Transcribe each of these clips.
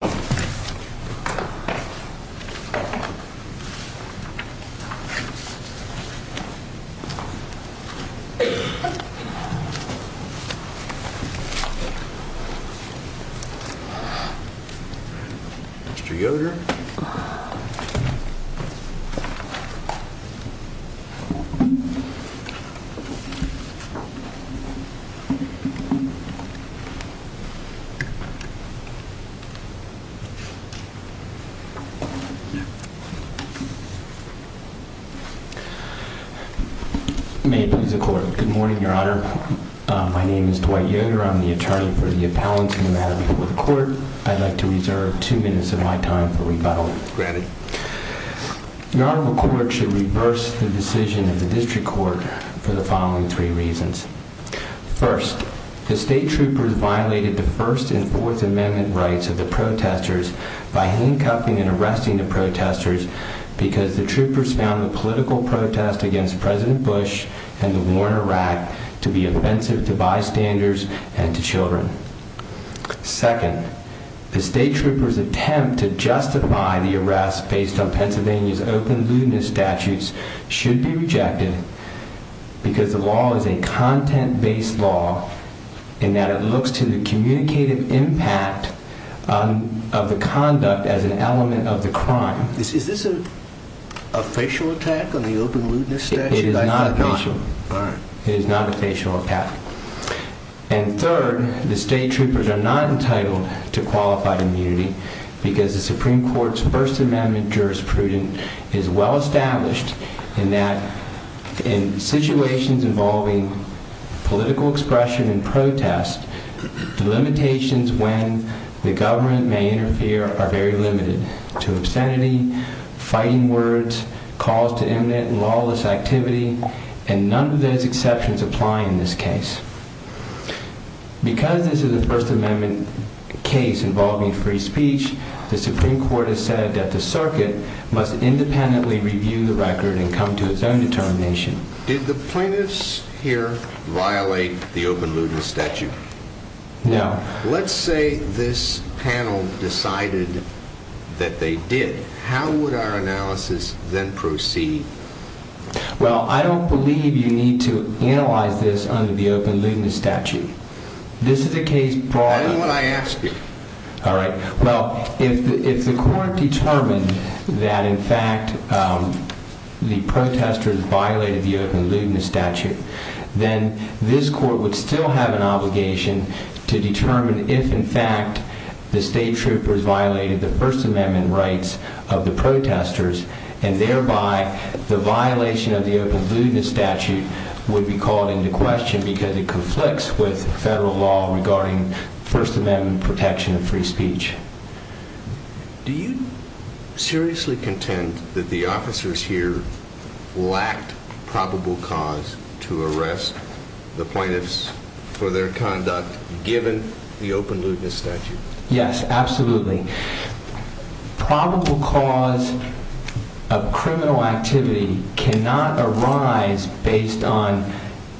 Mr. Yoder. Good morning, Your Honor. My name is Dwight Yoder. I'm the attorney for the appellant for the District Court. I'd like to reserve two minutes of my time for rebuttal. Your Honor, the court should reverse the decision of the District Court for the following three reasons. First, the state troopers violated the First and Fourth Amendment rights of the protesters by handcuffing and arresting the protesters because the troopers found the political protest against President Bush and the war in Iraq to be offensive to bystanders and to children. Second, the state troopers' attempt to justify the arrest based on Pennsylvania's open lewdness statutes should be rejected because the law is a content-based law in that it looks to the communicative impact of the conduct as an element of the crime. Is this a facial attack on the open lewdness statute? It is not a facial attack. And third, the state troopers are not entitled to qualified immunity because the Supreme Court's First Amendment jurisprudence is well established in that in situations involving political expression and protest, the limitations when the government may interfere are very limited to obscenity, fighting words, calls to imminent and lawless activity, and none of those exceptions apply in this case. Because this is a First Amendment case involving free speech, the Supreme Court has said that the circuit must independently review the record and come to its own determination. Did the plaintiffs here violate the open lewdness statute? No. Let's say this panel decided that they did. How would our analysis then proceed? Well, I don't believe you need to analyze this under the open lewdness statute. This is a case broadly... I know what I asked you. All right. Well, if the court determined that in fact the protesters violated the open lewdness statute, then this court would still have an obligation to determine if in fact the state troopers violated the First Amendment rights of the protesters, and thereby the violation of the open lewdness statute would be called into question because it conflicts with federal law regarding First Amendment protection of free speech. Do you seriously contend that the officers here lacked probable cause to arrest the plaintiffs for their conduct given the open lewdness statute? Yes, absolutely. Probable cause of criminal activity cannot arise based on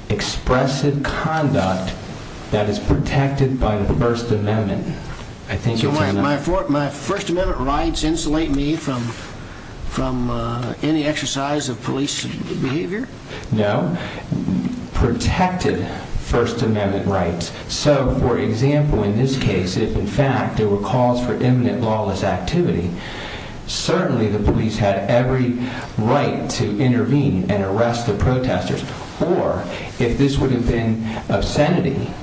expressive conduct that is protected by the First Amendment. My First Amendment rights insulate me from any exercise of police behavior? No. Protected First Amendment rights. So, for example, in this case, if in fact there were calls for imminent lawless activity, certainly the police had every right to intervene and arrest the protesters. Or, if this would have been obscenity,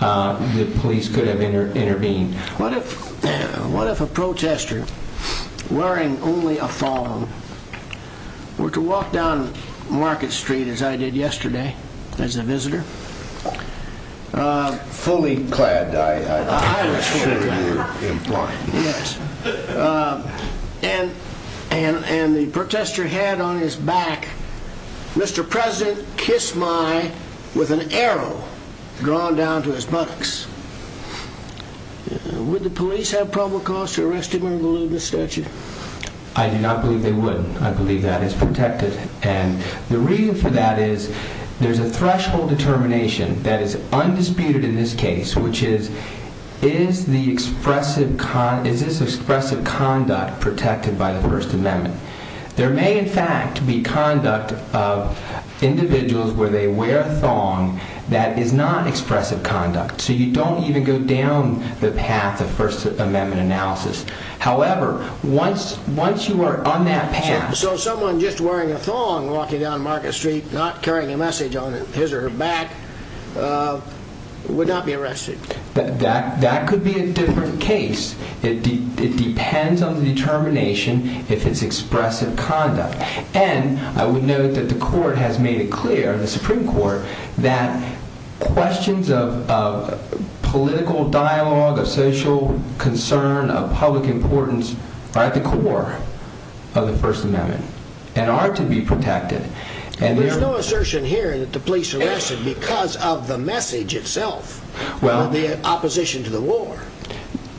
the police could have intervened. What if a protester, wearing only a thong, were to walk down Market Street, as I did yesterday, as a visitor? Fully clad, I'm sure you would imply. Yes. And the protester had on his back, Mr. President Kiss My, with an arrow drawn down to his buttocks. Would the police have probable cause to arrest him under the lewdness statute? I do not believe they would. I believe that is protected. And the reason for that is there's a threshold determination that is undisputed in this case, which is, is this expressive conduct protected by the First Amendment? There may, in fact, be conduct of individuals where they wear a thong that is not expressive conduct. So you don't even go down the path of First Amendment analysis. However, once you are on that path... His or her back would not be arrested. That could be a different case. It depends on the determination if it's expressive conduct. And I would note that the court has made it clear, the Supreme Court, that questions of political dialogue, of social concern, of public importance are at the core of the First Amendment and are to be protected. There's no assertion here that the police arrested because of the message itself, or the opposition to the war.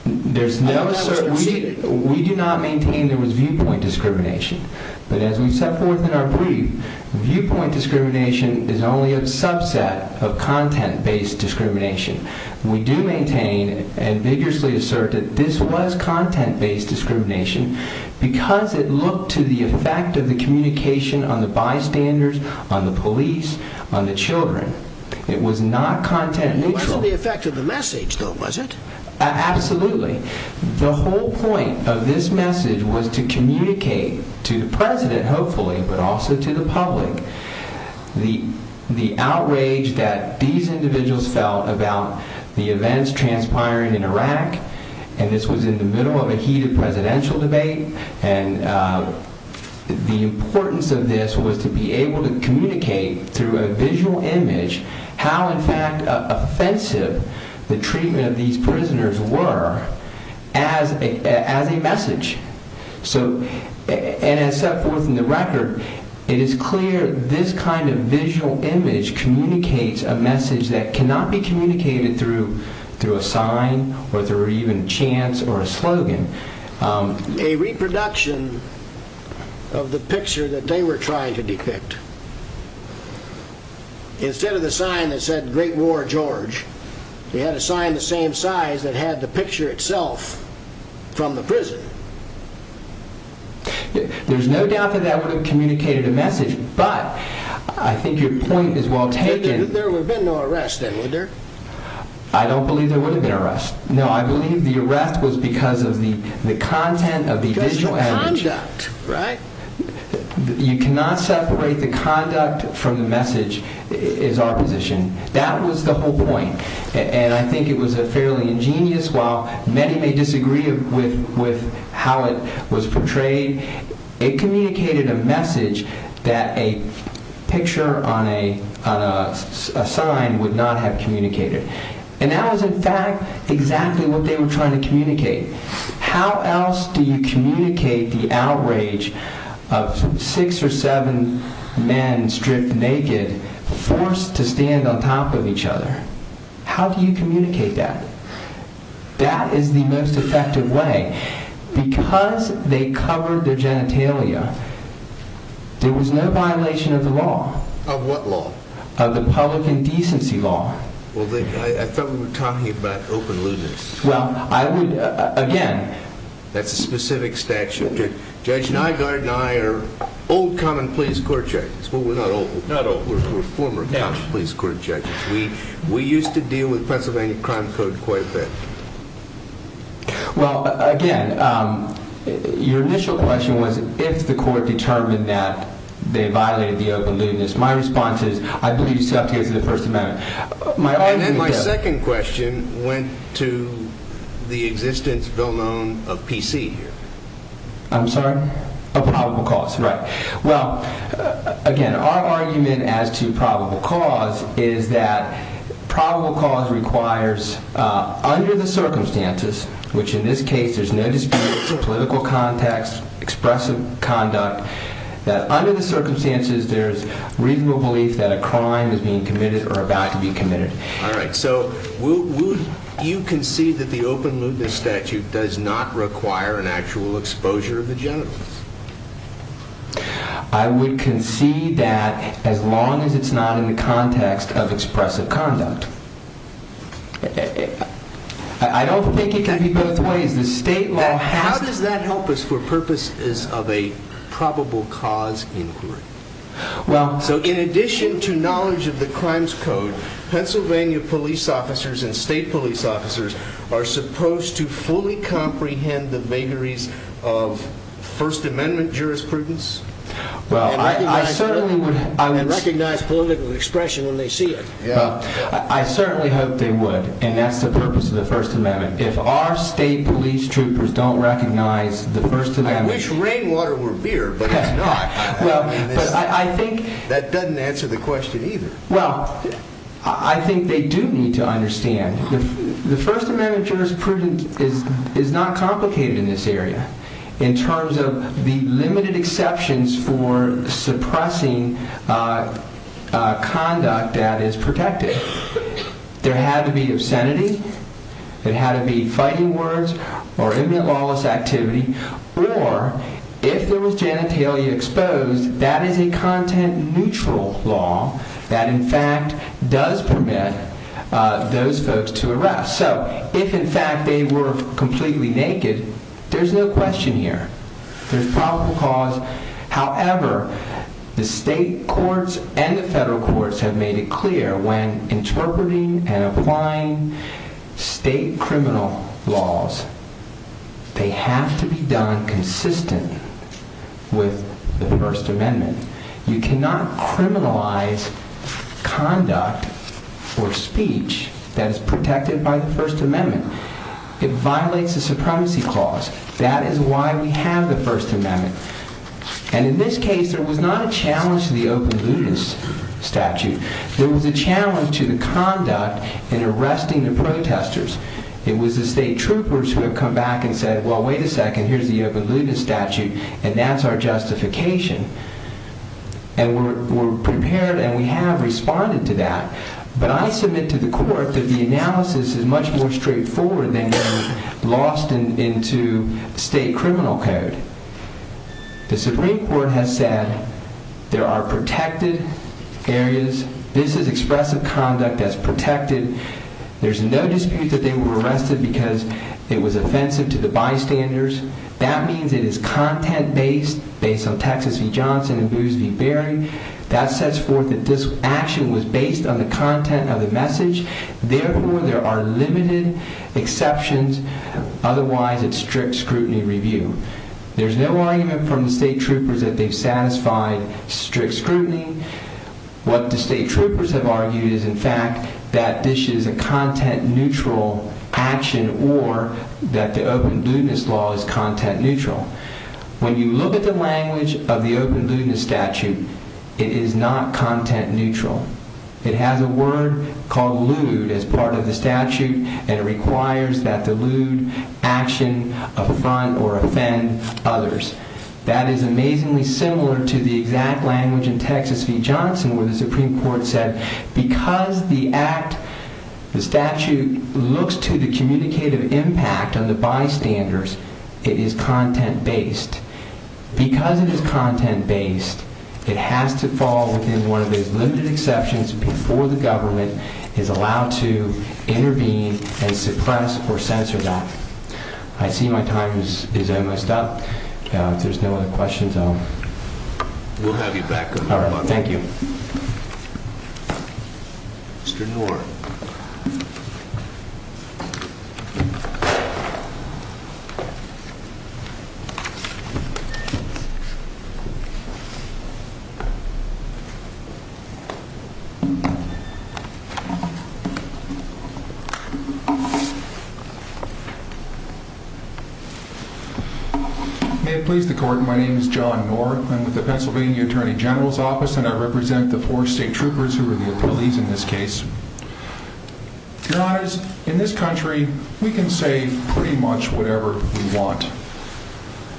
There's no assertion. We do not maintain there was viewpoint discrimination. But as we set forth in our brief, viewpoint discrimination is only a subset of content-based discrimination. We do maintain and vigorously assert that this was content-based discrimination because it looked to the effect of the communication on the bystanders, on the police, on the children. It was not content-neutral. It wasn't the effect of the message, though, was it? Absolutely. The whole point of this message was to communicate to the President, hopefully, but also to the public, the outrage that these individuals felt about the events transpiring in Iraq, and this was in the middle of a heated presidential debate, and the importance of this was to be able to communicate through a visual image how, in fact, offensive the treatment of these prisoners were as a message. So, and as set forth in the record, it is clear this kind of visual image communicates a message that cannot be communicated through a sign or through even a chance or a slogan. A reproduction of the picture that they were trying to depict. Instead of the sign that said Great War George, they had a sign the same size that had the picture itself from the prison. There's no doubt that that would have communicated a message, but I think your point is well there would have been no arrest then, would there? I don't believe there would have been an arrest. No, I believe the arrest was because of the content of the visual image. Because of the conduct, right? You cannot separate the conduct from the message, is our position. That was the whole point, and I think it was fairly ingenious. While many may disagree with how it was portrayed, it communicated a message that a picture on a sign would not have communicated. And that was, in fact, exactly what they were trying to communicate. How else do you communicate the outrage of six or seven men stripped naked, forced to stand on top of each other? How do you communicate that? That is the most effective way. Because they covered their genitalia, there was no violation of the law. Of what law? Of the public indecency law. Well, I thought we were talking about open lewdness. Well, I would, again. That's a specific statute. Judge Nygaard and I are old common-pleas court judges. Well, we're not old. We're former common-pleas court judges. We used to deal with Pennsylvania crime code quite a bit. Well, again, your initial question was if the court determined that they violated the open lewdness. My response is, I believe it's subject to the First Amendment. And then my second question went to the existence, bill known, of PC here. I'm sorry? Of probable cause. Of probable cause, right. Well, again, our argument as to probable cause is that probable cause requires, under the circumstances, which in this case there's no dispute, it's a political context, expressive conduct, that under the circumstances there's reasonable belief that a crime is being committed or about to be committed. Alright, so you concede that the open lewdness statute does not require an actual exposure of the genitals? I would concede that as long as it's not in the context of expressive conduct. I don't think it can be both ways. The state law has... How does that help us for purposes of a probable cause inquiry? Well, so in addition to knowledge of the crimes code, Pennsylvania police officers and state police officers are supposed to fully comprehend the vagaries of First Amendment jurisprudence? And recognize political expression when they see it. I certainly hope they would, and that's the purpose of the First Amendment. If our state police troopers don't recognize the First Amendment... I wish rainwater were beer, but it's not. That doesn't answer the question either. Well, I think they do need to understand the First Amendment jurisprudence is not complicated in this area in terms of the limited exceptions for suppressing conduct that is protected. There had to be obscenity, there had to be fighting words, or immoral activity, or if there was genitalia exposed, that is a content neutral law that in fact does permit those folks to arrest. So, if in fact they were completely naked, there's no question here. There's probable cause. However, the state courts and the federal courts have made it clear when interpreting and applying state criminal laws, they have to be done consistent with the First Amendment. You cannot criminalize conduct or speech that is protected by the First Amendment. It violates the Supremacy Clause. That is why we have the First Amendment. And in this case, there was not a challenge to the Open Ludus statute. There was a challenge to the conduct in arresting the protesters. It was the state troopers who have come back and said, well, wait a second, here's the Open Ludus statute, and that's our justification. And we're prepared, and we have responded to that. But I submit to the court that the analysis is much more straightforward than going lost into state criminal code. The Supreme Court has said there are protected areas. This is expressive conduct that's protected. There's no dispute that they were arrested because it was offensive to the content based on Texas v. Johnson and Boos v. Berry. That sets forth that this action was based on the content of the message. Therefore, there are limited exceptions. Otherwise, it's strict scrutiny review. There's no argument from the state troopers that they've satisfied strict scrutiny. What the state troopers have argued is, in fact, that this is a content-neutral action or that the Open Ludus law is content-neutral. When you look at the language of the Open Ludus statute, it is not content-neutral. It has a word called lewd as part of the statute, and it requires that the lewd action affront or offend others. That is amazingly similar to the exact language in Texas v. Johnson where the Supreme Court said, because the act, the statute, looks to the communicative impact on the bystanders, it is content-based. Because it is content-based, it has to fall within one of those limited exceptions before the government is allowed to intervene and suppress or censor that. I see my time is almost up. If there's no other questions, I'll... Thank you. Mr. Knorr. May it please the court, my name is John Knorr. I'm with the Pennsylvania Attorney General's Office, and I represent the four state troopers who are the appellees in this case. Your honors, in this country, we consider We consider them to be the most important members of the public. We can say pretty much whatever we want,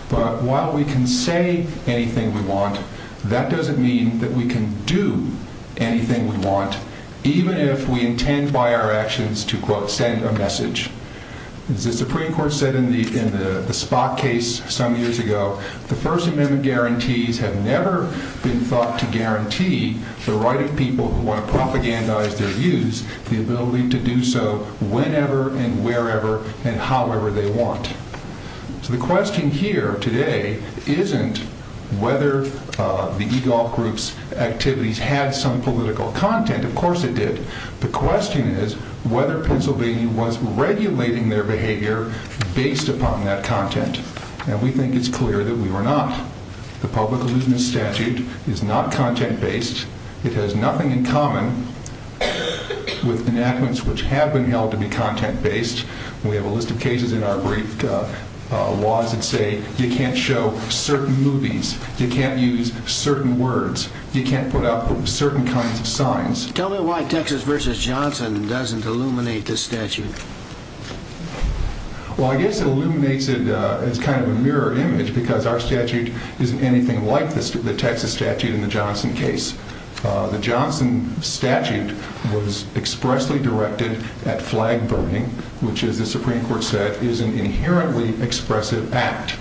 but while we can say anything we want, that doesn't mean that we can do anything we want, even if we intend by our actions to quote, send a message. As the Supreme Court said in the Spock case some years ago, the First Amendment guarantees have never been thought to guarantee the right of people who want to propagandize their views, the ability to do so whenever and wherever and however they want. So the question here today isn't whether the e-golf group's activities had some political content. Of course it did. The question is whether Pennsylvania was regulating their behavior based upon that content, and we think it's clear that we were not. The public allusion statute is not content based. It has nothing in common with enactments which have been held to be content based. We have a list of cases in our brief laws that say you can't show certain movies, you can't use certain words, you can't put up certain kinds of signs. Tell me why Texas v. Johnson doesn't illuminate this statute? Well, I guess it illuminates it as kind of a mirror image because our statute isn't anything like the Texas statute in the Johnson case. The Johnson statute was expressly directed at flag burning, which as the Supreme Court said, is an inherently expressive act.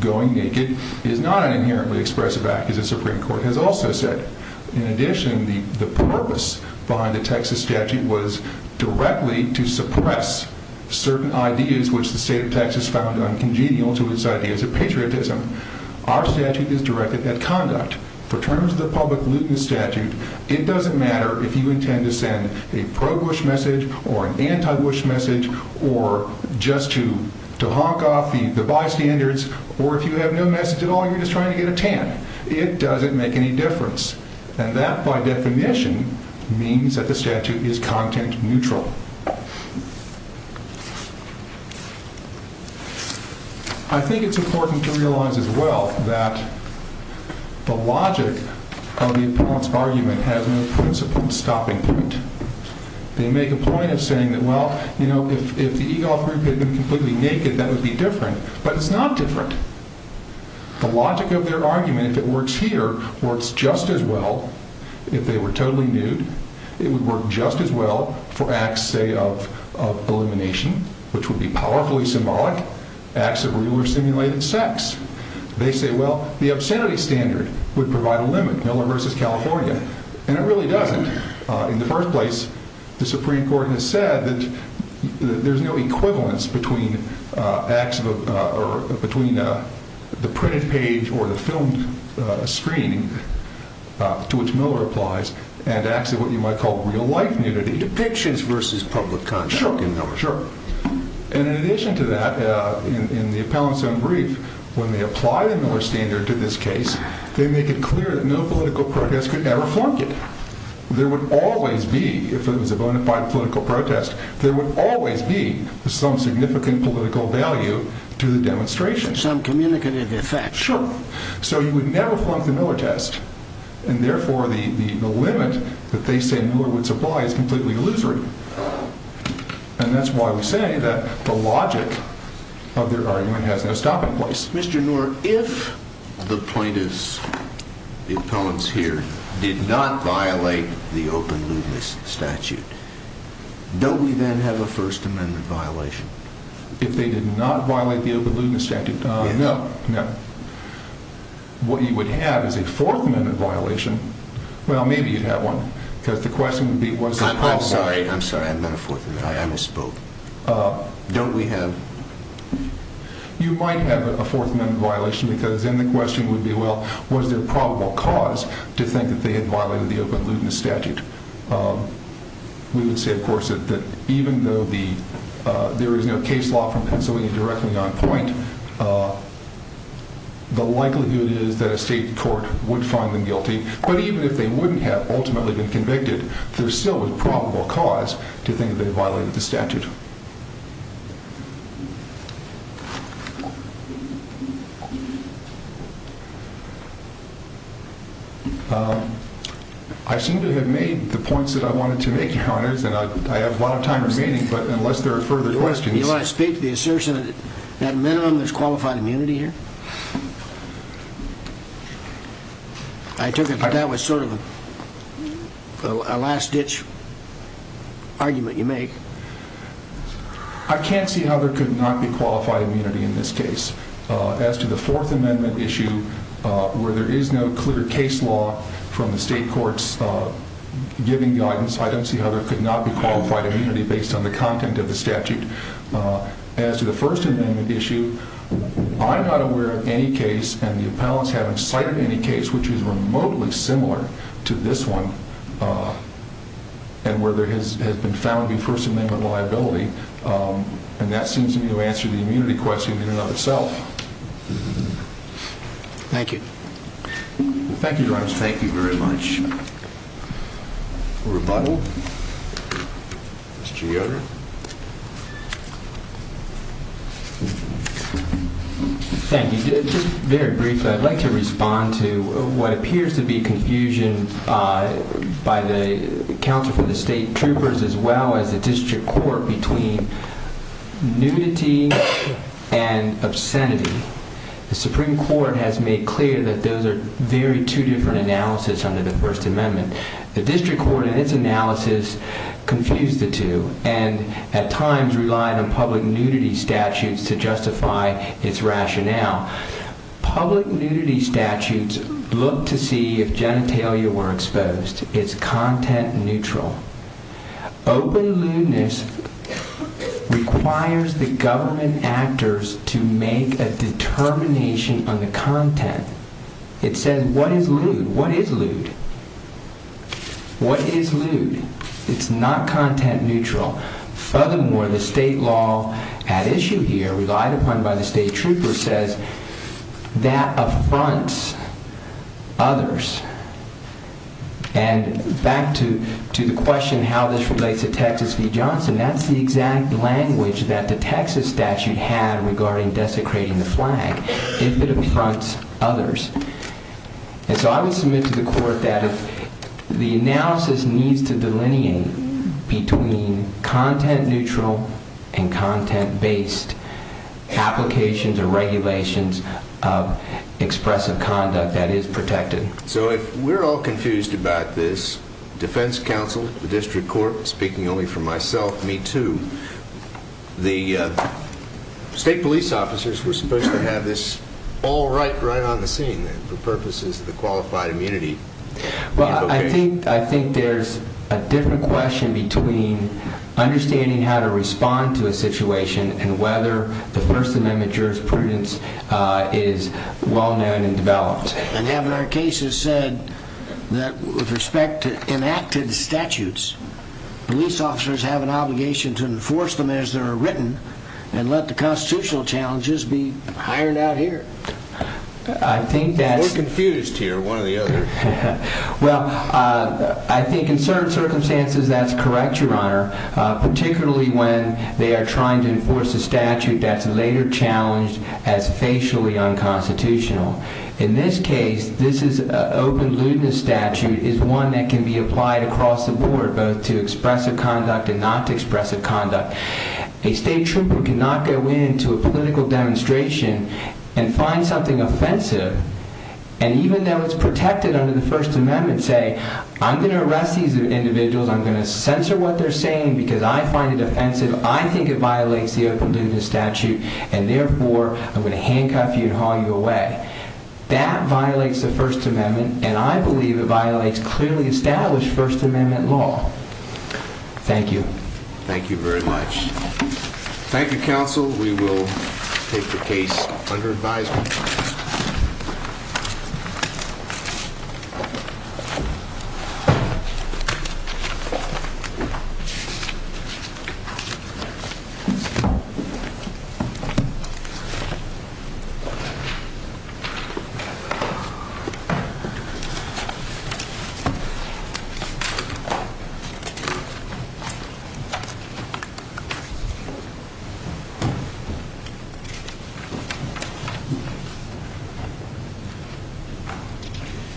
Going naked is not an inherently expressive act, as the Supreme Court has also said. In addition, the purpose behind the Texas statute was directly to suppress certain ideas which the state of Texas found uncongenial to its ideas of patriotism. Our statute is a public looting statute. It doesn't matter if you intend to send a pro-Bush message, or an anti-Bush message, or just to honk off the bystanders, or if you have no message at all and you're just trying to get a tan. It doesn't make any difference. And that, by definition, means that the statute is content neutral. I think it's important to realize as well that the logic of the appellant's argument has no principal stopping point. They make a point of saying that, well, if the EGOL group had been completely naked, that would be different. But it's not different. The logic of their argument, if it works here, works just as well if they were totally nude. It would work just as well for acts, say, of elimination, which would be powerfully symbolic acts of real or simulated sex. They say, well, the obscenity standard would provide a limit. Miller versus California. And it really doesn't. In the first place, the Supreme Court has said that there's no equivalence between the printed page or the filmed screen to which Miller applies, and acts of what you might call real-life nudity. And in addition to that, in the appellant's own brief, when they apply the Miller standard to this case, they make it clear that no political protest could ever flunk it. There would always be, if it was a bona fide political protest, there would always be some significant political value to the demonstration. Some communicative effect. Sure. So you would never flunk the Miller test. And therefore, the limit that they say Miller would supply is completely illusory. And that's why we say that the logic of their argument has no stopping place. Mr. Noor, if the plaintiffs, the appellants here, did not violate the open lewdness statute, don't we then have a First Amendment violation? If they did not violate the open lewdness statute? No. What you would have is a Fourth Amendment violation. Well, maybe you'd have one. Because the question would be, what's the problem? I'm sorry. I'm not a Fourth Amendment. I misspoke. You might have a Fourth Amendment violation because then the question would be, well, was there probable cause to think that they had violated the open lewdness statute? We would say, of course, that even though there is no case law from Pennsylvania directly on point, the likelihood is that a state court would find them guilty. But even if they wouldn't have ultimately been convicted, there's still a probable cause to think that they violated the statute. I seem to have made the points that I wanted to make, Your Honors, and I have a lot of time remaining, but unless there are further questions... Do you want to speak to the assertion that at a minimum there's qualified immunity here? I took it that that was sort of a last-ditch argument you make. I can't see how there could not be qualified immunity in this case. As to the Fourth Amendment issue, where there is no clear case law from the state courts giving guidance, I don't see how there could not be qualified immunity based on the content of the statute. As to the First Amendment issue, I'm not aware of any case, and the appellants haven't cited any case which is remotely similar to this one and where there has been found to be First Amendment liability, and that seems to me to answer the immunity question in and of itself. Thank you. Thank you, Your Honors. Thank you very much. Thank you. Just very briefly, I'd like to respond to what appears to be confusion by the Counsel for the State Troopers as well as the District Court between nudity and obscenity. The Supreme Court has made clear that those are very two different analyses under the First Amendment. The District Court in its analysis confused the two, and at times relied on public nudity statutes to justify its rationale. Public nudity statutes look to see if genitalia were exposed. It's content neutral. Open lewdness requires the government actors to make a determination on the content. It says, what is lewd? What is lewd? What is lewd? It's not content neutral. Furthermore, the state law at issue here relied upon by the State Trooper says that affronts others. Back to the question how this relates to Texas v. Johnson, that's the exact language that the Texas statute had regarding desecrating the flag, if it affronts others. I would submit to the Court that the analysis needs to delineate between content neutral and content based applications or regulations of expressive conduct that is protected. So if we're all confused about this, defense counsel, the District Court, speaking only for myself, me too, the state police officers were supposed to have this all right, right on the scene for purposes of the qualified immunity. Well, I think there's a different question between understanding how to respond to a situation and whether the First Amendment jurisprudence is well known and developed. And having our cases said that with respect to enacted statutes, police officers have an obligation to enforce them as they're written and let the constitutional challenges be ironed out here. We're confused here one or the other. Well, I think in certain circumstances that's correct, Your Honor, particularly when they are trying to enforce a statute that's later challenged as facially unconstitutional. In this case, this is an open lewdness statute is one that can be applied across the board, both to expressive conduct and not expressive conduct. A state trooper cannot go into a political demonstration and find something offensive, and even though it's protected under the First Amendment, say I'm going to arrest these individuals. I'm going to censor what they're saying because I find it offensive. I think it violates the open lewdness statute and therefore I'm going to handcuff you and haul you away. That violates the First Amendment, and I believe it violates clearly established First Amendment law. Thank you. Thank you very much. Thank you, counsel. We will take the case under advisement. Thank you.